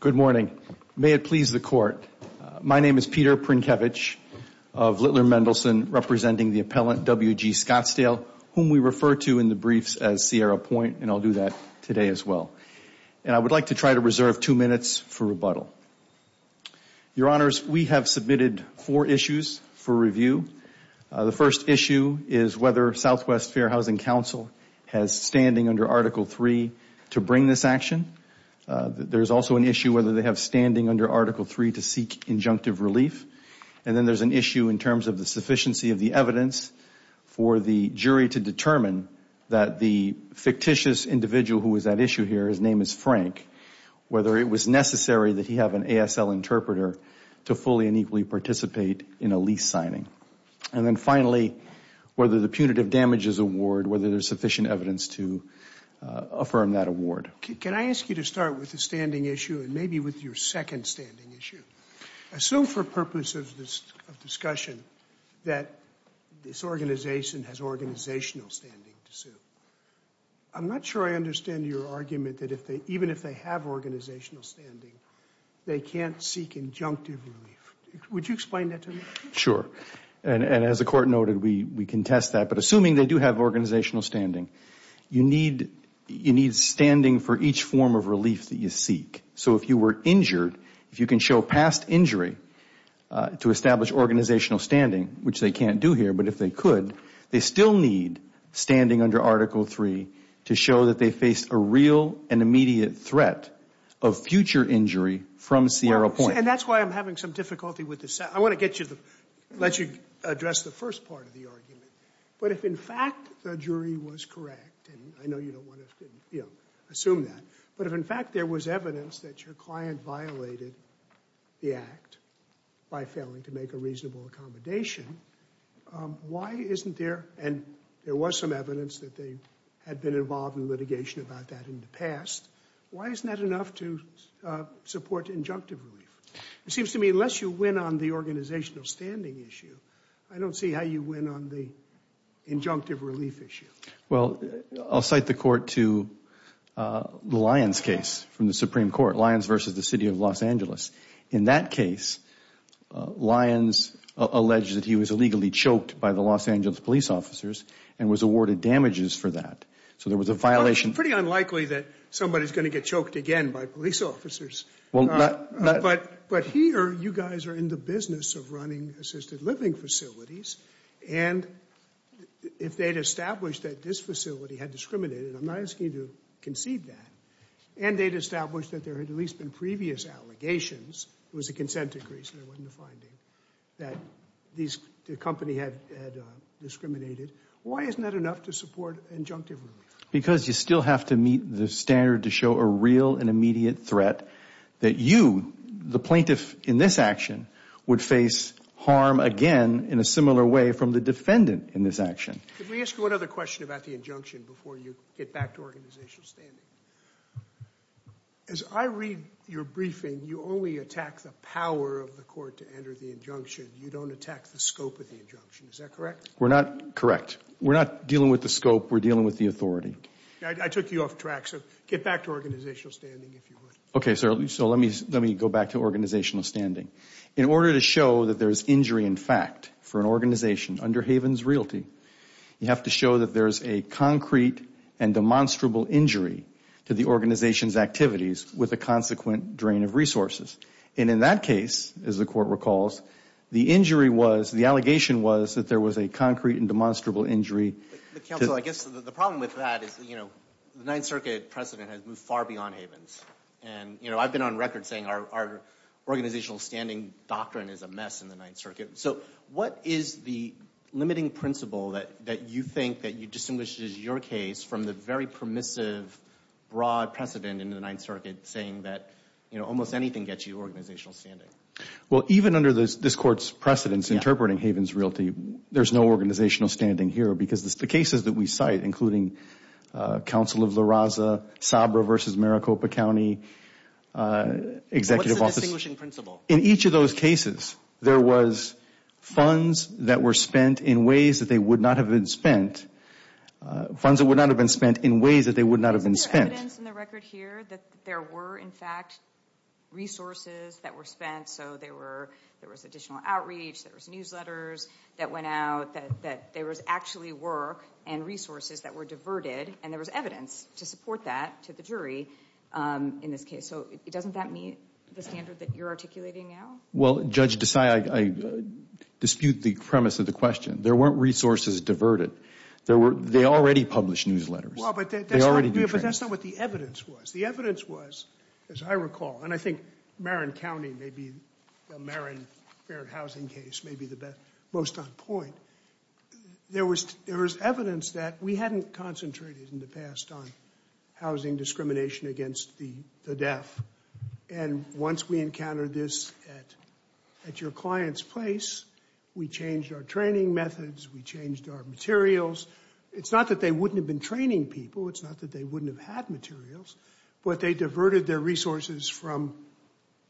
Good morning. May it please the court. My name is Peter Prinkevich of Littler Mendelsohn representing the appellant WG Scottsdale, whom we refer to in the briefs as Sierra Point, and I'll do that today as well. And I would like to try to reserve two minutes for rebuttal. Your Honors, we have submitted four issues for review. The first issue is whether Southwest Fair Housing Council has standing under Article III to bring this action. There's also an issue whether they have standing under Article III to seek injunctive relief. And then there's an issue in terms of the sufficiency of the evidence for the jury to determine that the fictitious individual who is at issue here, his name is Frank, whether it was necessary that he have an ASL interpreter to fully and equally participate in a lease signing. And then finally, whether the punitive damages award, whether there's sufficient evidence to affirm that award. Can I ask you to start with the standing issue and maybe with your second standing issue? Assume for purpose of this discussion that this organization has organizational standing to sue. I'm not sure I understand your argument that even if they have organizational standing, they can't seek injunctive relief. Would you explain that to me? Sure. And as the Court noted, we contest that. But assuming they do have organizational standing, you need standing for each form of relief that you seek. So if you were injured, if you can show past injury to establish organizational standing, which they can't do here, but if they could, they still need standing under Article III to show that they face a real and immediate threat of future injury from Sierra Point. And that's why I'm having some difficulty with this. I want to let you address the first part of the argument. But if, in fact, the jury was correct, and I know you don't want to assume that, but if, in fact, there was evidence that your client violated the act by failing to make a reasonable accommodation, why isn't there, and there was some evidence that they had been involved in litigation about that in the past, why isn't that enough to support injunctive relief? It seems to me unless you win on the organizational standing issue, I don't see how you win on the injunctive relief issue. Well, I'll cite the court to the Lyons case from the Supreme Court, Lyons versus the City of Los Angeles. In that case, Lyons alleged that he was illegally choked by the Los Angeles police officers and was awarded damages for that. So there was a violation. Well, it's pretty unlikely that somebody's going to get choked again by police officers. But here, you guys are in the business of running assisted living facilities. And if they'd established that this facility had discriminated, I'm not asking you to concede that, and they'd established that there had at least been previous allegations, it was a consent decree, so there wasn't a finding, that the company had discriminated, why isn't that enough to support injunctive relief? Because you still have to meet the standard to show a real and immediate threat that you, the plaintiff in this action, would face harm again in a similar way from the defendant in this action. Could we ask you one other question about the injunction before you get back to organizational standing? As I read your briefing, you only attack the power of the court to enter the injunction. You don't attack the scope of the injunction. Is that correct? We're not, correct. We're not dealing with the scope, we're dealing with the authority. I took you off track, so get back to organizational standing, if you would. Okay, so let me go back to organizational standing. In order to show that there's injury in fact for an organization under Havens Realty, you have to show that there's a concrete and demonstrable injury to the organization's activities with a consequent drain of resources. And in that case, as the court recalls, the injury was, the allegation was that there was a concrete and demonstrable injury. Counsel, I guess the problem with that is, you know, the Ninth Circuit precedent has moved far beyond Havens. And, you know, I've been on record saying our organizational standing doctrine is a mess in the Ninth Circuit. So what is the limiting principle that you think that distinguishes your case from the very permissive, broad precedent in the Ninth Circuit saying that, you know, almost anything gets you organizational standing? Well, even under this court's precedence interpreting Havens Realty, there's no organizational standing here because the cases that we cite, including Counsel of La Raza, Sabra v. Maricopa County, Executive Office. What's the distinguishing principle? In each of those cases, there was funds that were spent in ways that they would not have been spent, funds that would not have been spent in ways that they would not have been spent. Is there evidence in the record here that there were, in fact, resources that were spent? So there was additional outreach, there was newsletters that went out, that there was actually work and resources that were diverted, and there was evidence to support that to the jury in this case. So doesn't that meet the standard that you're articulating now? Well, Judge Desai, I dispute the premise of the question. There weren't resources diverted. They already published newsletters. They already do training. But that's not what the evidence was. The evidence was, as I recall, and I think Marin County may be, the Marin Fair Housing case may be the most on point. There was evidence that we hadn't concentrated in the past on housing discrimination against the deaf, and once we encountered this at your client's place, we changed our training methods, we changed our materials. It's not that they wouldn't have been training people. It's not that they wouldn't have had materials. But they diverted their resources from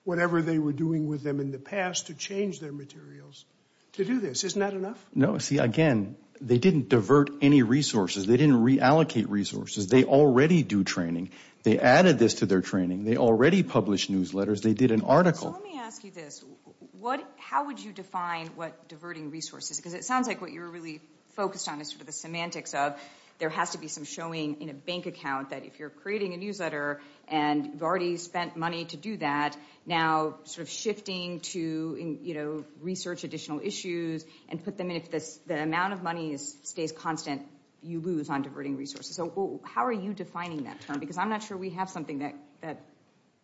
whatever they were doing with them in the past to change their materials to do this. Isn't that enough? No, see, again, they didn't divert any resources. They didn't reallocate resources. They already do training. They added this to their training. They already published newsletters. They did an article. So let me ask you this. How would you define what diverting resources is? Because it sounds like what you're really focused on is sort of the semantics of there has to be some showing in a bank account that if you're creating a newsletter and you've already spent money to do that, now sort of shifting to research additional issues and put them in if the amount of money stays constant, you lose on diverting resources. So how are you defining that term? Because I'm not sure we have something that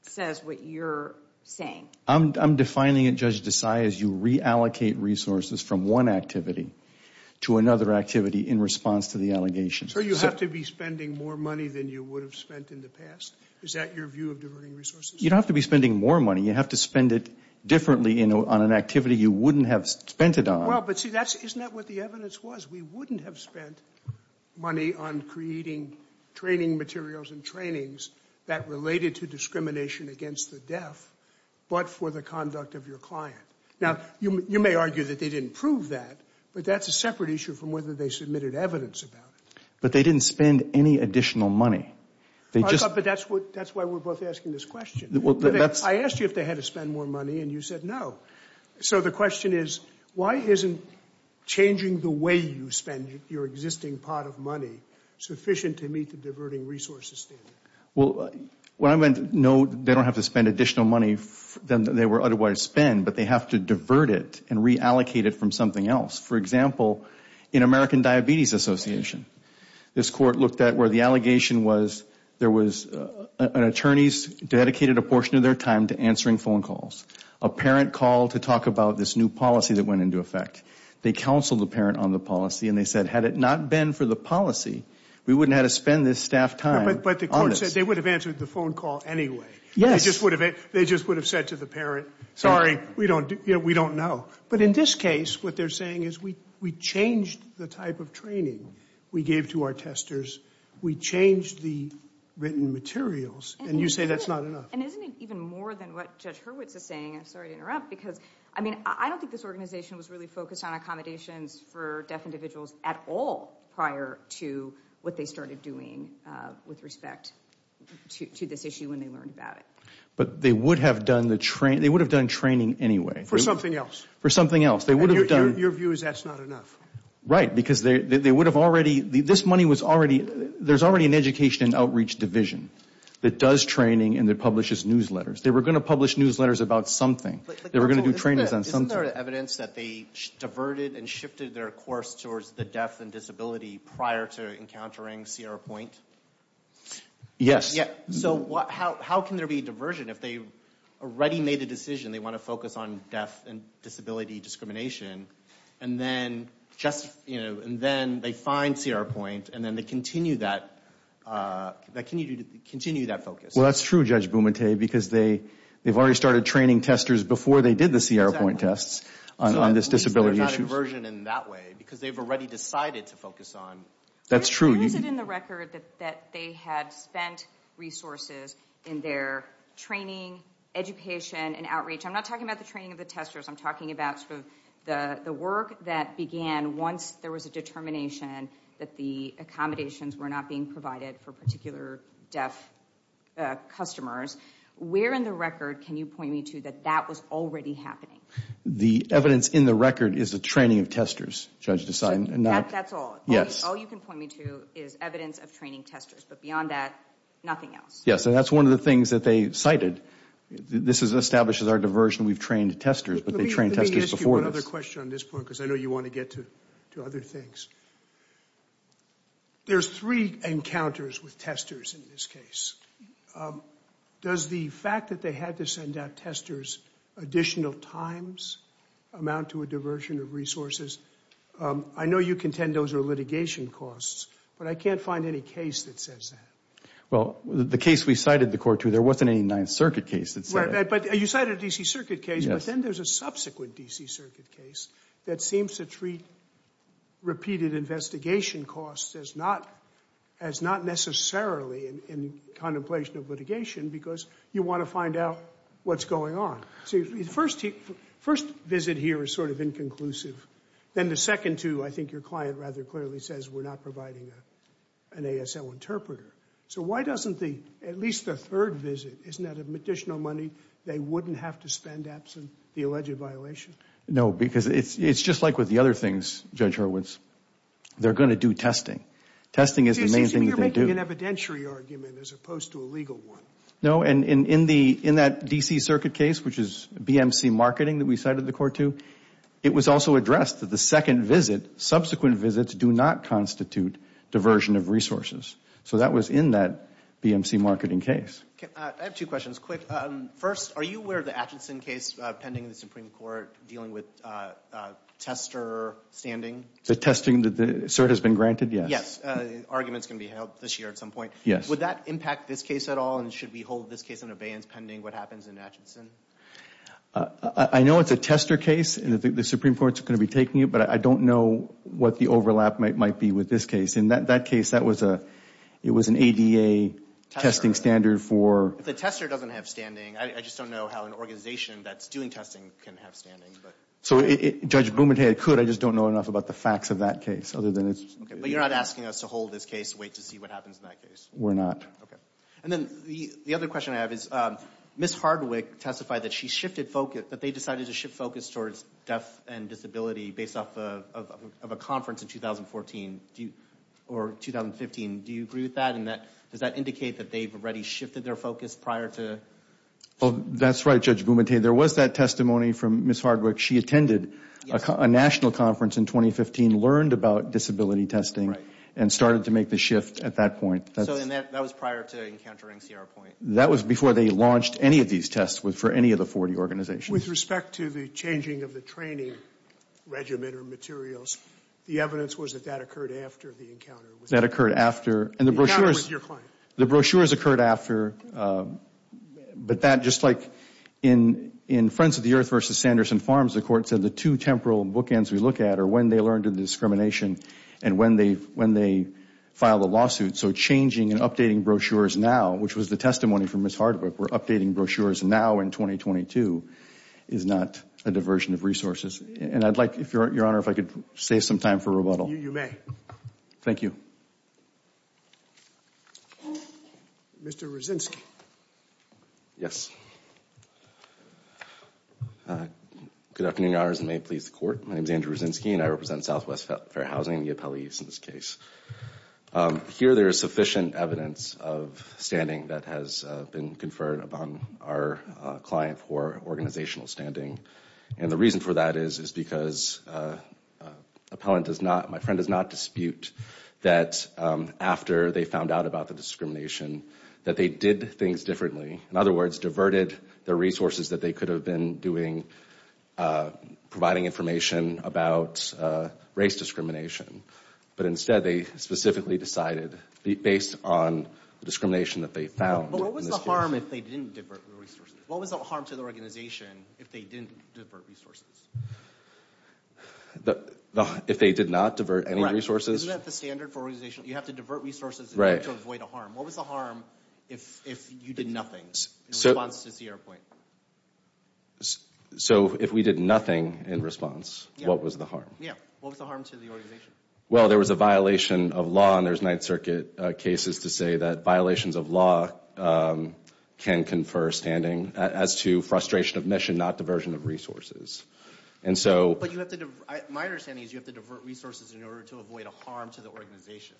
says what you're saying. I'm defining it, Judge Desai, as you reallocate resources from one activity to another activity in response to the allegations. So you have to be spending more money than you would have spent in the past? Is that your view of diverting resources? You don't have to be spending more money. You have to spend it differently on an activity you wouldn't have spent it on. Well, but see, isn't that what the evidence was? We wouldn't have spent money on creating training materials and trainings that related to discrimination against the deaf. But for the conduct of your client. Now, you may argue that they didn't prove that, but that's a separate issue from whether they submitted evidence about it. But they didn't spend any additional money. That's why we're both asking this question. I asked you if they had to spend more money and you said no. So the question is, why isn't changing the way you spend your existing pot of money sufficient to meet the diverting resources standard? Well, what I meant, no, they don't have to spend additional money than they would otherwise spend, but they have to divert it and reallocate it from something else. For example, in American Diabetes Association, this court looked at where the allegation was there was an attorney dedicated a portion of their time to answering phone calls. A parent called to talk about this new policy that went into effect. They counseled the parent on the policy and they said, had it not been for the policy, we wouldn't have had to spend this staff time on it. But the court said they would have answered the phone call anyway. They just would have said to the parent, sorry, we don't know. But in this case, what they're saying is we changed the type of training we gave to our testers. We changed the written materials. And you say that's not enough. And isn't it even more than what Judge Hurwitz is saying? I'm sorry to interrupt because, I mean, I don't think this organization was really focused on accommodations for deaf individuals at all prior to what they started doing with respect to this issue when they learned about it. But they would have done training anyway. For something else. For something else. Your view is that's not enough. Right, because they would have already, this money was already, there's already an education and outreach division that does training and that publishes newsletters. They were going to publish newsletters about something. They were going to do trainings on something. Isn't there evidence that they diverted and shifted their course towards the deaf and disability prior to encountering Sierra Point? Yes. So how can there be diversion if they already made a decision they want to focus on deaf and disability discrimination and then they find Sierra Point and then they continue that focus? Well, that's true, Judge Bumate, because they've already started training testers before they did the Sierra Point tests on this disability issue. So there's not a diversion in that way because they've already decided to focus on. That's true. Who is it in the record that they had spent resources in their training, education and outreach? I'm not talking about the training of the testers. I'm talking about sort of the work that began once there was a determination that the accommodations were not being provided for particular deaf customers. Where in the record can you point me to that that was already happening? The evidence in the record is the training of testers, Judge DeSign. That's all? Yes. All you can point me to is evidence of training testers, but beyond that, nothing else? Yes, and that's one of the things that they cited. This establishes our diversion. We've trained testers, but they trained testers before this. I have a question on this point because I know you want to get to other things. There's three encounters with testers in this case. Does the fact that they had to send out testers additional times amount to a diversion of resources? I know you contend those are litigation costs, but I can't find any case that says that. Well, the case we cited the court to, there wasn't any Ninth Circuit case that said that. You cited a D.C. Circuit case, but then there's a subsequent D.C. Circuit case that seems to treat repeated investigation costs as not necessarily in contemplation of litigation because you want to find out what's going on. The first visit here is sort of inconclusive. Then the second two, I think your client rather clearly says we're not providing an ASL interpreter. So why doesn't the, at least the third visit, isn't that additional money they wouldn't have to spend absent the alleged violation? No, because it's just like with the other things, Judge Hurwitz. They're going to do testing. Testing is the main thing that they do. You're making an evidentiary argument as opposed to a legal one. No, and in that D.C. Circuit case, which is BMC marketing that we cited the court to, it was also addressed that the second visit, subsequent visits, do not constitute diversion of resources. So that was in that BMC marketing case. I have two questions. Quick. First, are you aware of the Atchison case pending in the Supreme Court dealing with tester standing? The testing that the cert has been granted? Yes. Yes. Arguments can be held this year at some point. Yes. Would that impact this case at all, and should we hold this case in abeyance pending what happens in Atchison? I know it's a tester case, and the Supreme Court's going to be taking it, but I don't know what the overlap might be with this case. In that case, it was an ADA testing standard for – If the tester doesn't have standing, I just don't know how an organization that's doing testing can have standing. So Judge Bumadhey could, I just don't know enough about the facts of that case other than – But you're not asking us to hold this case, wait to see what happens in that case? We're not. Okay. And then the other question I have is Ms. Hardwick testified that she shifted focus – that they decided to shift focus towards deaf and disability based off of a conference in 2014. Or 2015. Do you agree with that? And does that indicate that they've already shifted their focus prior to – That's right, Judge Bumadhey. There was that testimony from Ms. Hardwick. She attended a national conference in 2015, learned about disability testing, and started to make the shift at that point. So that was prior to encountering Sierra Point. That was before they launched any of these tests for any of the 40 organizations. With respect to the changing of the training regimen or materials, the evidence was that that occurred after the encounter. That occurred after. The encounter with your client. The brochures occurred after. But that, just like in Friends of the Earth v. Sanderson Farms, the court said the two temporal bookends we look at are when they learned of discrimination and when they filed a lawsuit. So changing and updating brochures now, which was the testimony from Ms. Hardwick, we're updating brochures now in 2022, is not a diversion of resources. And I'd like, Your Honor, if I could save some time for rebuttal. You may. Thank you. Mr. Rosinsky. Yes. Good afternoon, Your Honors. May it please the Court. My name is Andrew Rosinsky, and I represent Southwest Fair Housing, the appellees in this case. Here there is sufficient evidence of standing that has been conferred upon our client for organizational standing. And the reason for that is because my friend does not dispute that after they found out about the discrimination that they did things differently. In other words, diverted the resources that they could have been doing, providing information about race discrimination. But instead they specifically decided, based on the discrimination that they found. But what was the harm if they didn't divert the resources? What was the harm to the organization if they didn't divert resources? If they did not divert any resources? Isn't that the standard for organization? You have to divert resources in order to avoid a harm. What was the harm if you did nothing in response to Sierra Point? So if we did nothing in response, what was the harm? Yeah. What was the harm to the organization? Well, there was a violation of law, and there's Ninth Circuit cases to say that violations of law can confer standing as to frustration of mission, not diversion of resources. But my understanding is you have to divert resources in order to avoid a harm to the organization.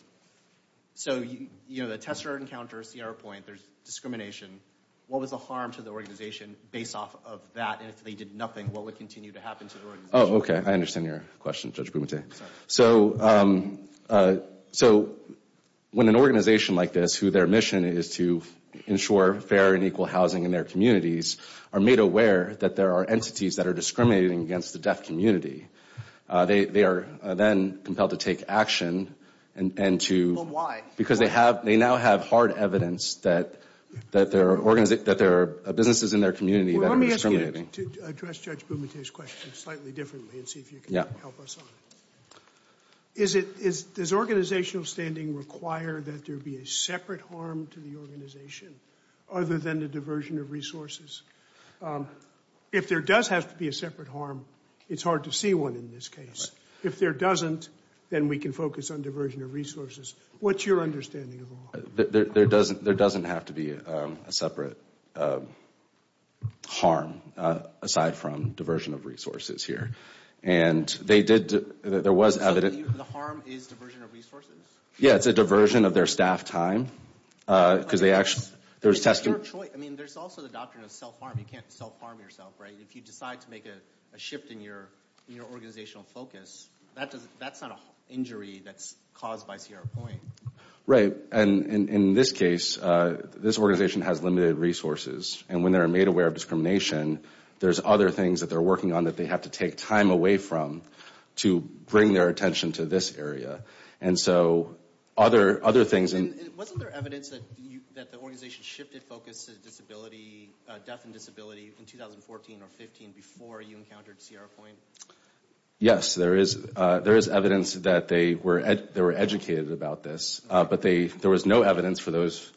So the tester encounters Sierra Point, there's discrimination. What was the harm to the organization based off of that? And if they did nothing, what would continue to happen to the organization? Oh, okay. I understand your question, Judge Bumate. Okay. So when an organization like this, who their mission is to ensure fair and equal housing in their communities, are made aware that there are entities that are discriminating against the deaf community, they are then compelled to take action. Well, why? Because they now have hard evidence that there are businesses in their community that are discriminating. To address Judge Bumate's question slightly differently and see if you can help us on it. Yeah. Does organizational standing require that there be a separate harm to the organization other than the diversion of resources? If there does have to be a separate harm, it's hard to see one in this case. If there doesn't, then we can focus on diversion of resources. What's your understanding of the law? There doesn't have to be a separate harm aside from diversion of resources here. And they did, there was evidence. So the harm is diversion of resources? Yeah, it's a diversion of their staff time. Because they actually, there's testing. I mean, there's also the doctrine of self-harm. You can't self-harm yourself, right? If you decide to make a shift in your organizational focus, that's not an injury that's caused by Sierra Point. Right. And in this case, this organization has limited resources. And when they're made aware of discrimination, there's other things that they're working on that they have to take time away from to bring their attention to this area. And so other things... And wasn't there evidence that the organization shifted focus to disability, death and disability, in 2014 or 15 before you encountered Sierra Point? Yes, there is evidence that they were educated about this. But there was no evidence for those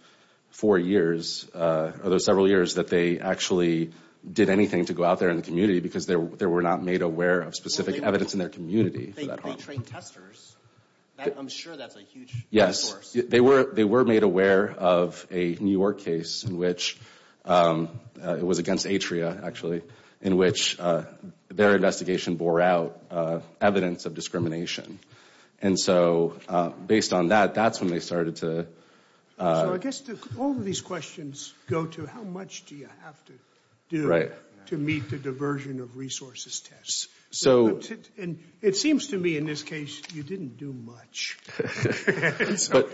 four years or those several years that they actually did anything to go out there in the community because they were not made aware of specific evidence in their community. They trained testers. I'm sure that's a huge resource. Yes, they were made aware of a New York case in which it was against Atria, actually, in which their investigation bore out evidence of discrimination. And so based on that, that's when they started to... So I guess all of these questions go to how much do you have to do to meet the diversion of resources test. So... And it seems to me in this case, you didn't do much. So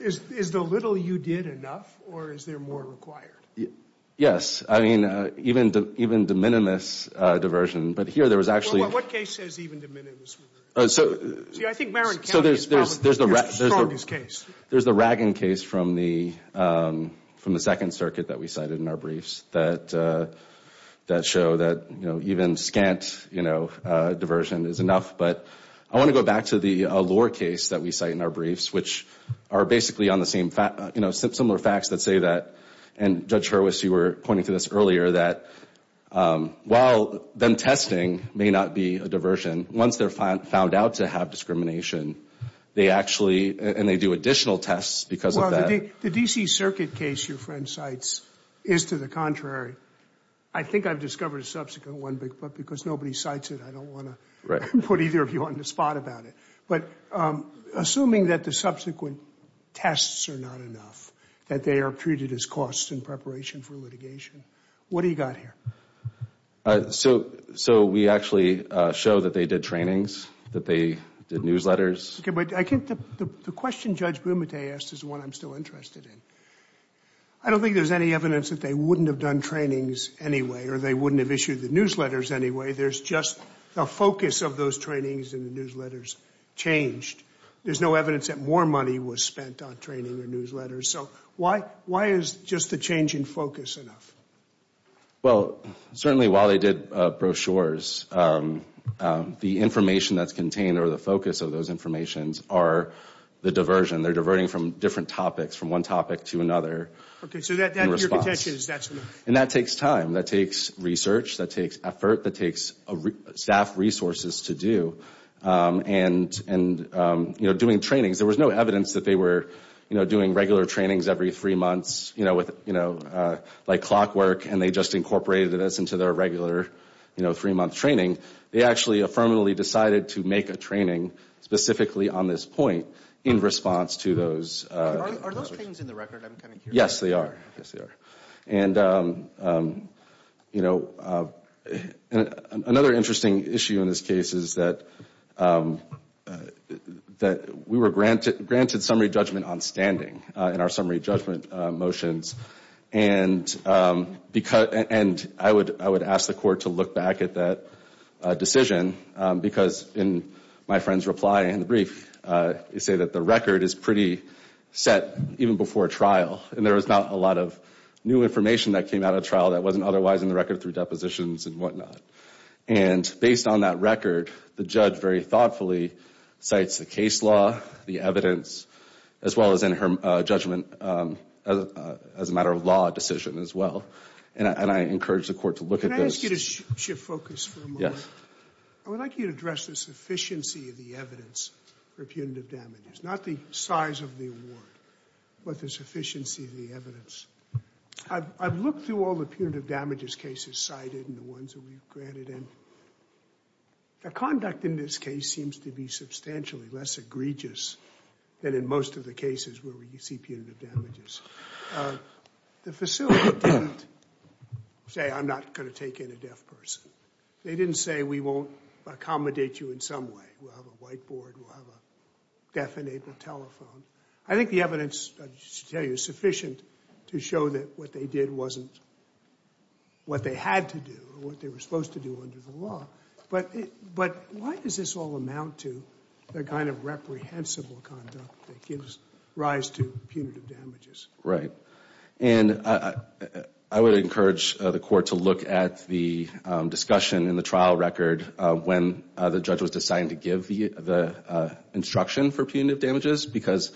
is the little you did enough or is there more required? Yes. I mean, even de minimis diversion. But here there was actually... What case says even de minimis? See, I think Marin County is probably the strongest case. There's the Ragon case from the Second Circuit that we cited in our briefs that show that even scant diversion is enough. But I want to go back to the Allure case that we cite in our briefs, which are basically on the same... Similar facts that say that, and Judge Hurwitz, you were pointing to this earlier, that while then testing may not be a diversion, once they're found out to have discrimination, they actually... And they do additional tests because of that. Well, the D.C. Circuit case your friend cites is to the contrary. I think I've discovered a subsequent one, but because nobody cites it, I don't want to put either of you on the spot about it. But assuming that the subsequent tests are not enough, that they are treated as costs in preparation for litigation, what do you got here? So we actually show that they did trainings, that they did newsletters. Okay, but I think the question Judge Bumate asked is the one I'm still interested in. I don't think there's any evidence that they wouldn't have done trainings anyway or they wouldn't have issued the newsletters anyway. There's just the focus of those trainings and the newsletters changed. There's no evidence that more money was spent on training or newsletters. So why is just the change in focus enough? Well, certainly while they did brochures, the information that's contained or the focus of those informations are the diversion. They're diverting from different topics, from one topic to another. Okay, so your contention is that's enough. And that takes time. That takes research. That takes effort. That takes staff resources to do. And, you know, doing trainings. There was no evidence that they were doing regular trainings every three months, you know, like clockwork, and they just incorporated this into their regular three-month training. They actually affirmatively decided to make a training specifically on this point in response to those. Are those things in the record? I'm kind of curious. Yes, they are. Yes, they are. And, you know, another interesting issue in this case is that we were granted summary judgment on standing in our summary judgment motions, and I would ask the court to look back at that decision because in my friend's reply in the brief, you say that the record is pretty set even before trial, and there was not a lot of new information that came out of trial that wasn't otherwise in the record through depositions and whatnot. And based on that record, the judge very thoughtfully cites the case law, the evidence, as well as in her judgment as a matter of law decision as well, and I encourage the court to look at this. Can I ask you to shift focus for a moment? Yes. I would like you to address the sufficiency of the evidence for punitive damages, not the size of the award, but the sufficiency of the evidence. I've looked through all the punitive damages cases cited and the ones that we've granted, and the conduct in this case seems to be substantially less egregious than in most of the cases where we see punitive damages. The facility didn't say I'm not going to take in a deaf person. They didn't say we won't accommodate you in some way. We'll have a whiteboard. We'll have a deaf-enabled telephone. I think the evidence, I should tell you, is sufficient to show that what they did wasn't what they had to do or what they were supposed to do under the law. But why does this all amount to the kind of reprehensible conduct that gives rise to punitive damages? Right. And I would encourage the court to look at the discussion in the trial record when the judge was deciding to give the instruction for punitive damages because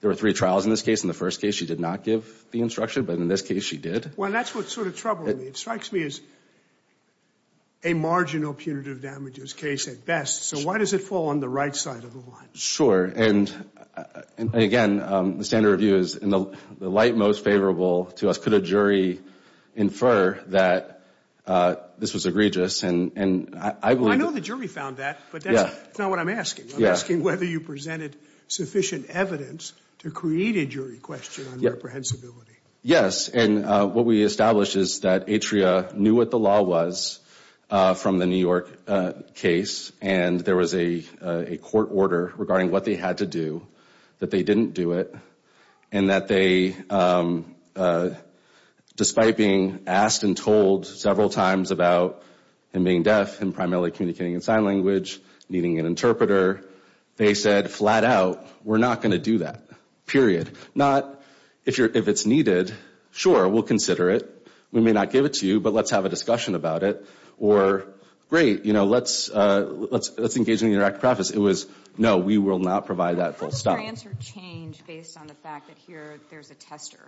there were three trials in this case. In the first case, she did not give the instruction, but in this case, she did. Well, that's what's sort of troubling me. It strikes me as a marginal punitive damages case at best. So why does it fall on the right side of the line? Sure. And, again, the standard review is in the light most favorable to us. Could a jury infer that this was egregious? Well, I know the jury found that, but that's not what I'm asking. I'm asking whether you presented sufficient evidence to create a jury question on reprehensibility. Yes, and what we established is that Atria knew what the law was from the New York case, and there was a court order regarding what they had to do, that they didn't do it, and that they, despite being asked and told several times about him being deaf and primarily communicating in sign language, needing an interpreter, they said flat out, we're not going to do that, period. Not, if it's needed, sure, we'll consider it. We may not give it to you, but let's have a discussion about it. Or, great, you know, let's engage in an interactive process. It was, no, we will not provide that full stop. How does your answer change based on the fact that here there's a tester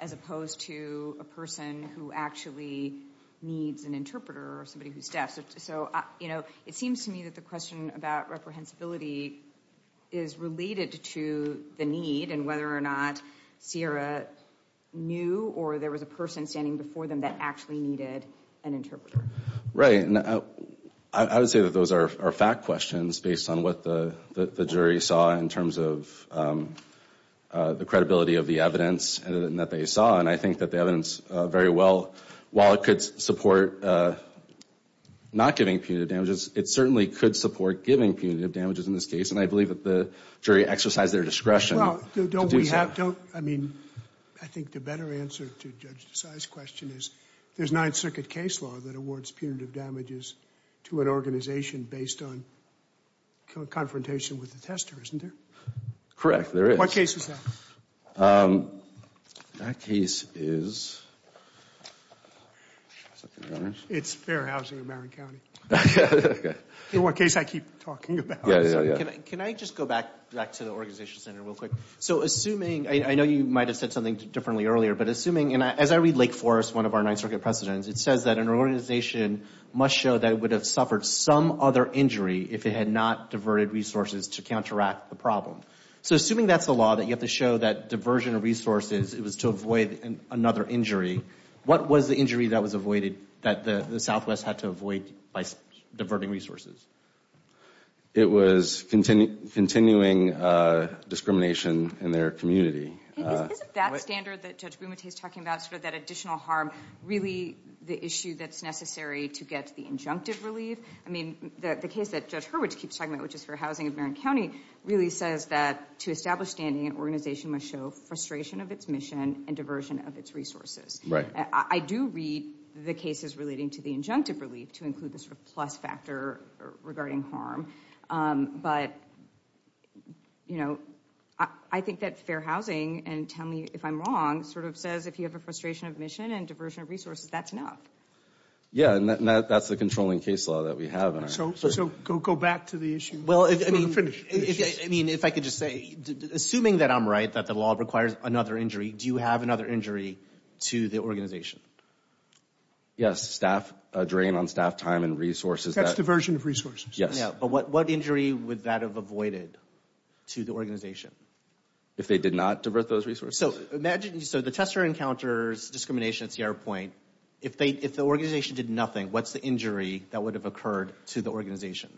as opposed to a person who actually needs an interpreter or somebody who's deaf? So, you know, it seems to me that the question about reprehensibility is related to the need and whether or not Sierra knew or there was a person standing before them that actually needed an interpreter. Right, and I would say that those are fact questions based on what the jury saw in terms of the credibility of the evidence that they saw, and I think that the evidence very well, while it could support not giving punitive damages, it certainly could support giving punitive damages in this case, and I believe that the jury exercised their discretion to do so. Well, don't we have, don't, I mean, I think the better answer to Judge Desai's question is there's Ninth Circuit case law that awards punitive damages to an organization based on confrontation with the tester, isn't there? Correct, there is. What case is that? That case is... It's Fair Housing of Marin County. Okay. The one case I keep talking about. Yeah, yeah, yeah. Can I just go back to the organization center real quick? So, assuming, I know you might have said something differently earlier, but assuming, and as I read Lake Forest, one of our Ninth Circuit precedents, it says that an organization must show that it would have suffered some other injury if it had not diverted resources to counteract the problem. So, assuming that's the law, that you have to show that diversion of resources, it was to avoid another injury, what was the injury that was avoided, that the Southwest had to avoid by diverting resources? It was continuing discrimination in their community. Isn't that standard that Judge Bumate is talking about, sort of that additional harm, really the issue that's necessary to get the injunctive relief? I mean, the case that Judge Hurwitz keeps talking about, which is Fair Housing of Marin County, really says that to establish standing, an organization must show frustration of its mission and diversion of its resources. Right. I do read the cases relating to the injunctive relief to include the sort of plus factor regarding harm, but I think that Fair Housing, and tell me if I'm wrong, sort of says if you have a frustration of mission and diversion of resources, that's enough. Yeah, and that's the controlling case law that we have. So, go back to the issue. Well, I mean, if I could just say, assuming that I'm right, that the law requires another injury, do you have another injury to the organization? That's diversion of resources. Yes. But what injury would that have avoided to the organization? If they did not divert those resources? So, imagine, so the tester encounters discrimination at Sierra Point. If the organization did nothing, what's the injury that would have occurred to the organization?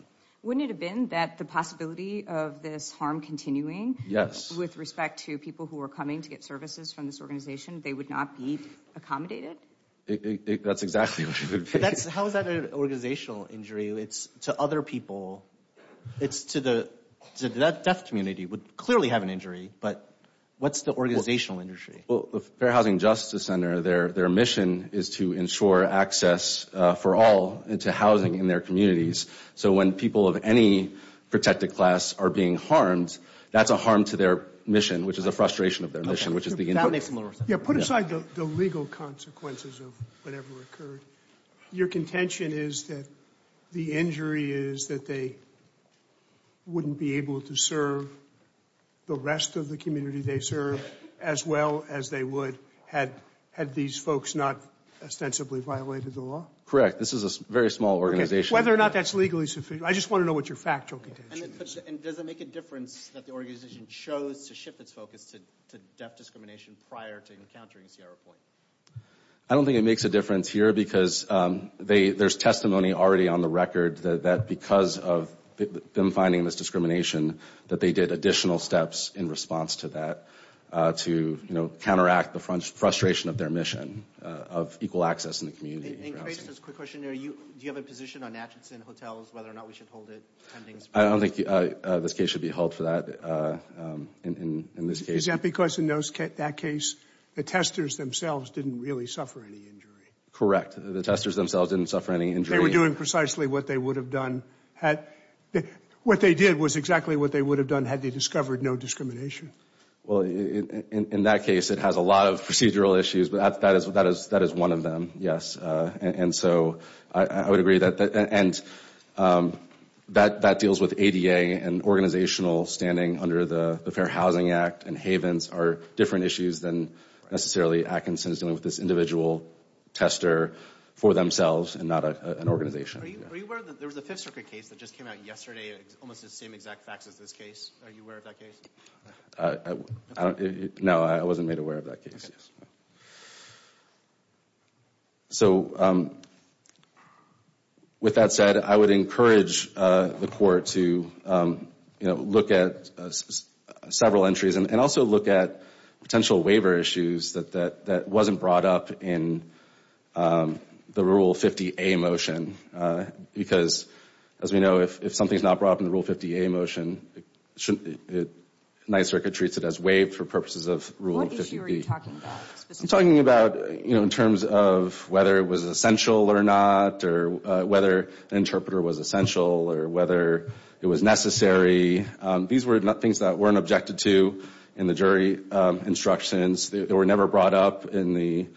Wouldn't it have been that the possibility of this harm continuing? Yes. With respect to people who are coming to get services from this organization, they would not be accommodated? That's exactly what it would be. How is that an organizational injury? It's to other people. It's to the deaf community, would clearly have an injury, but what's the organizational injury? Well, the Fair Housing Justice Center, their mission is to ensure access for all into housing in their communities. So, when people of any protected class are being harmed, that's a harm to their mission, which is a frustration of their mission, which is the individual. Yeah, put aside the legal consequences of whatever occurred. Your contention is that the injury is that they wouldn't be able to serve the rest of the community they serve as well as they would had these folks not ostensibly violated the law? Correct. This is a very small organization. Whether or not that's legally sufficient, I just want to know what your factual contention is. And does it make a difference that the organization chose to shift its focus to deaf discrimination prior to encountering Sierra Point? I don't think it makes a difference here because there's testimony already on the record that because of them finding this discrimination, that they did additional steps in response to that to counteract the frustration of their mission of equal access in the community. And Chris, just a quick question. Do you have a position on Atchison Hotels, whether or not we should hold it? I don't think this case should be held for that in this case. Is that because in that case, the testers themselves didn't really suffer any injury? Correct. The testers themselves didn't suffer any injury. They were doing precisely what they would have done. What they did was exactly what they would have done had they discovered no discrimination. Well, in that case, it has a lot of procedural issues, but that is one of them, yes. And so I would agree that that deals with ADA and organizational standing under the Fair Housing Act and havens are different issues than necessarily Atchison's dealing with this individual tester for themselves and not an organization. Are you aware that there was a Fifth Circuit case that just came out yesterday, almost the same exact facts as this case? Are you aware of that case? No, I wasn't made aware of that case, yes. So, with that said, I would encourage the Court to look at several entries and also look at potential waiver issues that wasn't brought up in the Rule 50A motion because, as we know, if something's not brought up in the Rule 50A motion, the Ninth Circuit treats it as waived for purposes of Rule 50B. What are you talking about specifically? I'm talking about, you know, in terms of whether it was essential or not or whether an interpreter was essential or whether it was necessary. These were things that weren't objected to in the jury instructions. They were never brought up in the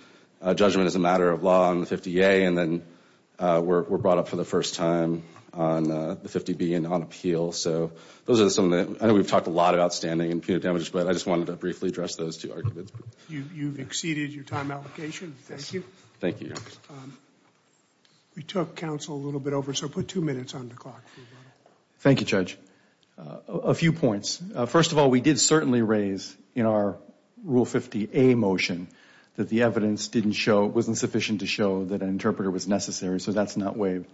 judgment as a matter of law in the 50A and then were brought up for the first time on the 50B and on appeal. So those are some of the, I know we've talked a lot about standing and punitive damages, but I just wanted to briefly address those two arguments. You've exceeded your time allocation. Thank you. Thank you, Your Honor. We took counsel a little bit over, so put two minutes on the clock. Thank you, Judge. A few points. First of all, we did certainly raise in our Rule 50A motion that the evidence wasn't sufficient to show that an interpreter was necessary, so that's not waived.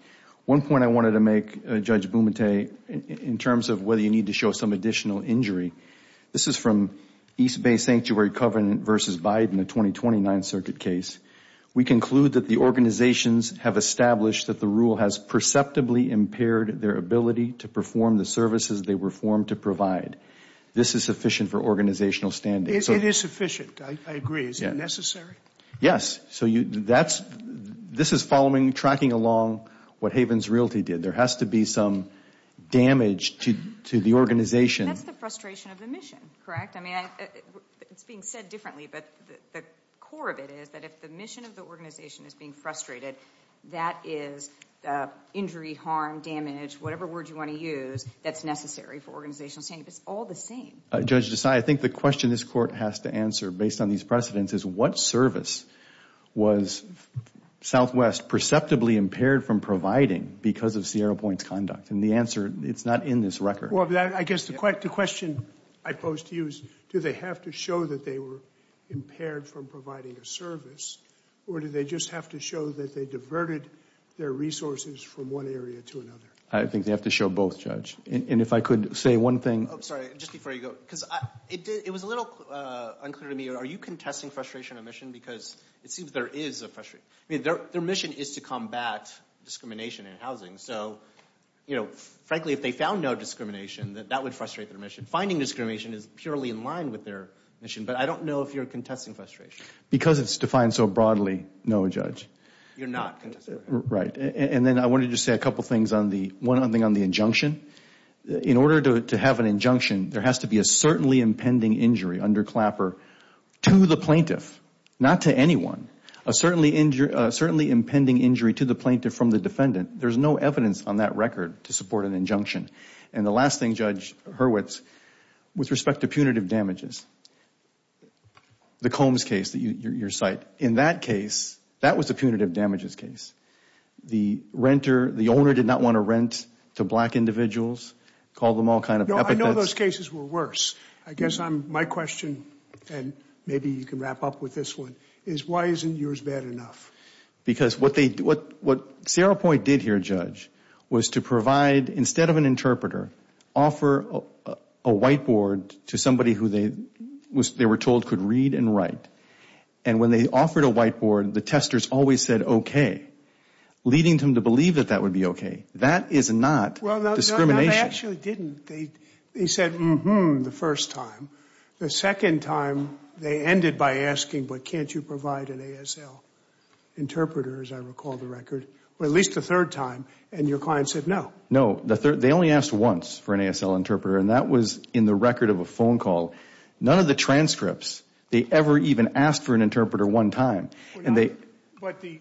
One point I wanted to make, Judge Bumate, in terms of whether you need to show some additional injury, this is from East Bay Sanctuary Covenant v. Biden, the 2029 circuit case. We conclude that the organizations have established that the rule has perceptibly impaired their ability to perform the services they were formed to provide. This is sufficient for organizational standing. It is sufficient, I agree. Is it necessary? Yes. This is following, tracking along what Havens Realty did. There has to be some damage to the organization. That's the frustration of the mission, correct? I mean, it's being said differently, but the core of it is that if the mission of the organization is being frustrated, that is injury, harm, damage, whatever word you want to use that's necessary for organizational standing. It's all the same. Judge Desai, I think the question this Court has to answer, based on these precedents, is what service was Southwest perceptibly impaired from providing because of Sierra Point's conduct? And the answer, it's not in this record. Well, I guess the question I pose to you is, do they have to show that they were impaired from providing a service, or do they just have to show that they diverted their resources from one area to another? I think they have to show both, Judge. And if I could say one thing. Sorry, just before you go. Because it was a little unclear to me, are you contesting frustration of mission? Because it seems there is a frustration. I mean, their mission is to combat discrimination in housing. So, frankly, if they found no discrimination, that would frustrate their mission. Finding discrimination is purely in line with their mission. But I don't know if you're contesting frustration. Because it's defined so broadly, no, Judge. You're not contesting frustration. Right. And then I wanted to say a couple things on the injunction. In order to have an injunction, there has to be a certainly impending injury under Clapper to the plaintiff, not to anyone. A certainly impending injury to the plaintiff from the defendant. There's no evidence on that record to support an injunction. And the last thing, Judge Hurwitz, with respect to punitive damages, the Combs case that you cite, in that case, that was a punitive damages case. The renter, the owner did not want to rent to black individuals, called them all kind of epithets. No, I know those cases were worse. I guess my question, and maybe you can wrap up with this one, is why isn't yours bad enough? Because what Sierra Point did here, Judge, was to provide, instead of an interpreter, offer a whiteboard to somebody who they were told could read and write. And when they offered a whiteboard, the testers always said okay, leading them to believe that that would be okay. That is not discrimination. No, they actually didn't. They said mm-hmm the first time. The second time, they ended by asking, but can't you provide an ASL interpreter, as I recall the record, or at least the third time, and your client said no. No, they only asked once for an ASL interpreter, and that was in the record of a phone call. None of the transcripts, they ever even asked for an interpreter one time. But there are three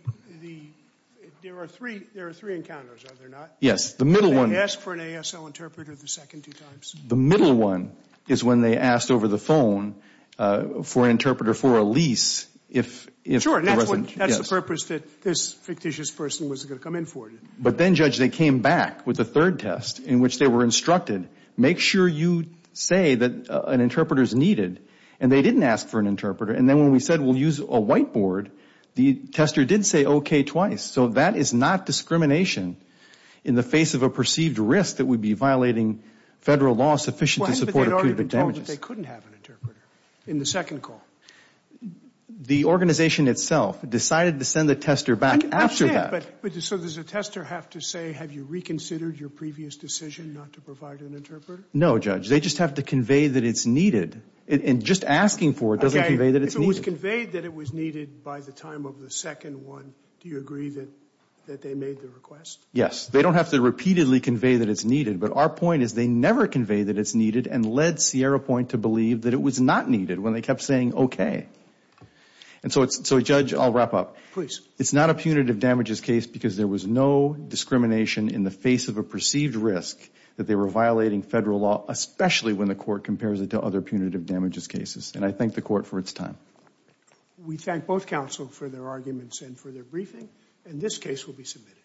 encounters, are there not? Yes, the middle one. They asked for an ASL interpreter the second two times. The middle one is when they asked over the phone for an interpreter for a lease. Sure, that's the purpose that this fictitious person was going to come in for. But then, Judge, they came back with a third test in which they were instructed, make sure you say that an interpreter is needed, and they didn't ask for an interpreter. And then when we said we'll use a whiteboard, the tester did say okay twice. So that is not discrimination in the face of a perceived risk that we'd be violating Federal law sufficient to support acute damages. But they'd already been told that they couldn't have an interpreter in the second call. The organization itself decided to send the tester back after that. So does the tester have to say, have you reconsidered your previous decision not to provide an interpreter? No, Judge. They just have to convey that it's needed. And just asking for it doesn't convey that it's needed. If it was conveyed that it was needed by the time of the second one, do you agree that they made the request? Yes. They don't have to repeatedly convey that it's needed. But our point is they never convey that it's needed and led Sierra Point to believe that it was not needed when they kept saying okay. And so, Judge, I'll wrap up. Please. It's not a punitive damages case because there was no discrimination in the face of a perceived risk that they were violating Federal law, especially when the court compares it to other punitive damages cases. And I thank the court for its time. We thank both counsel for their arguments and for their briefing. And this case will be submitted.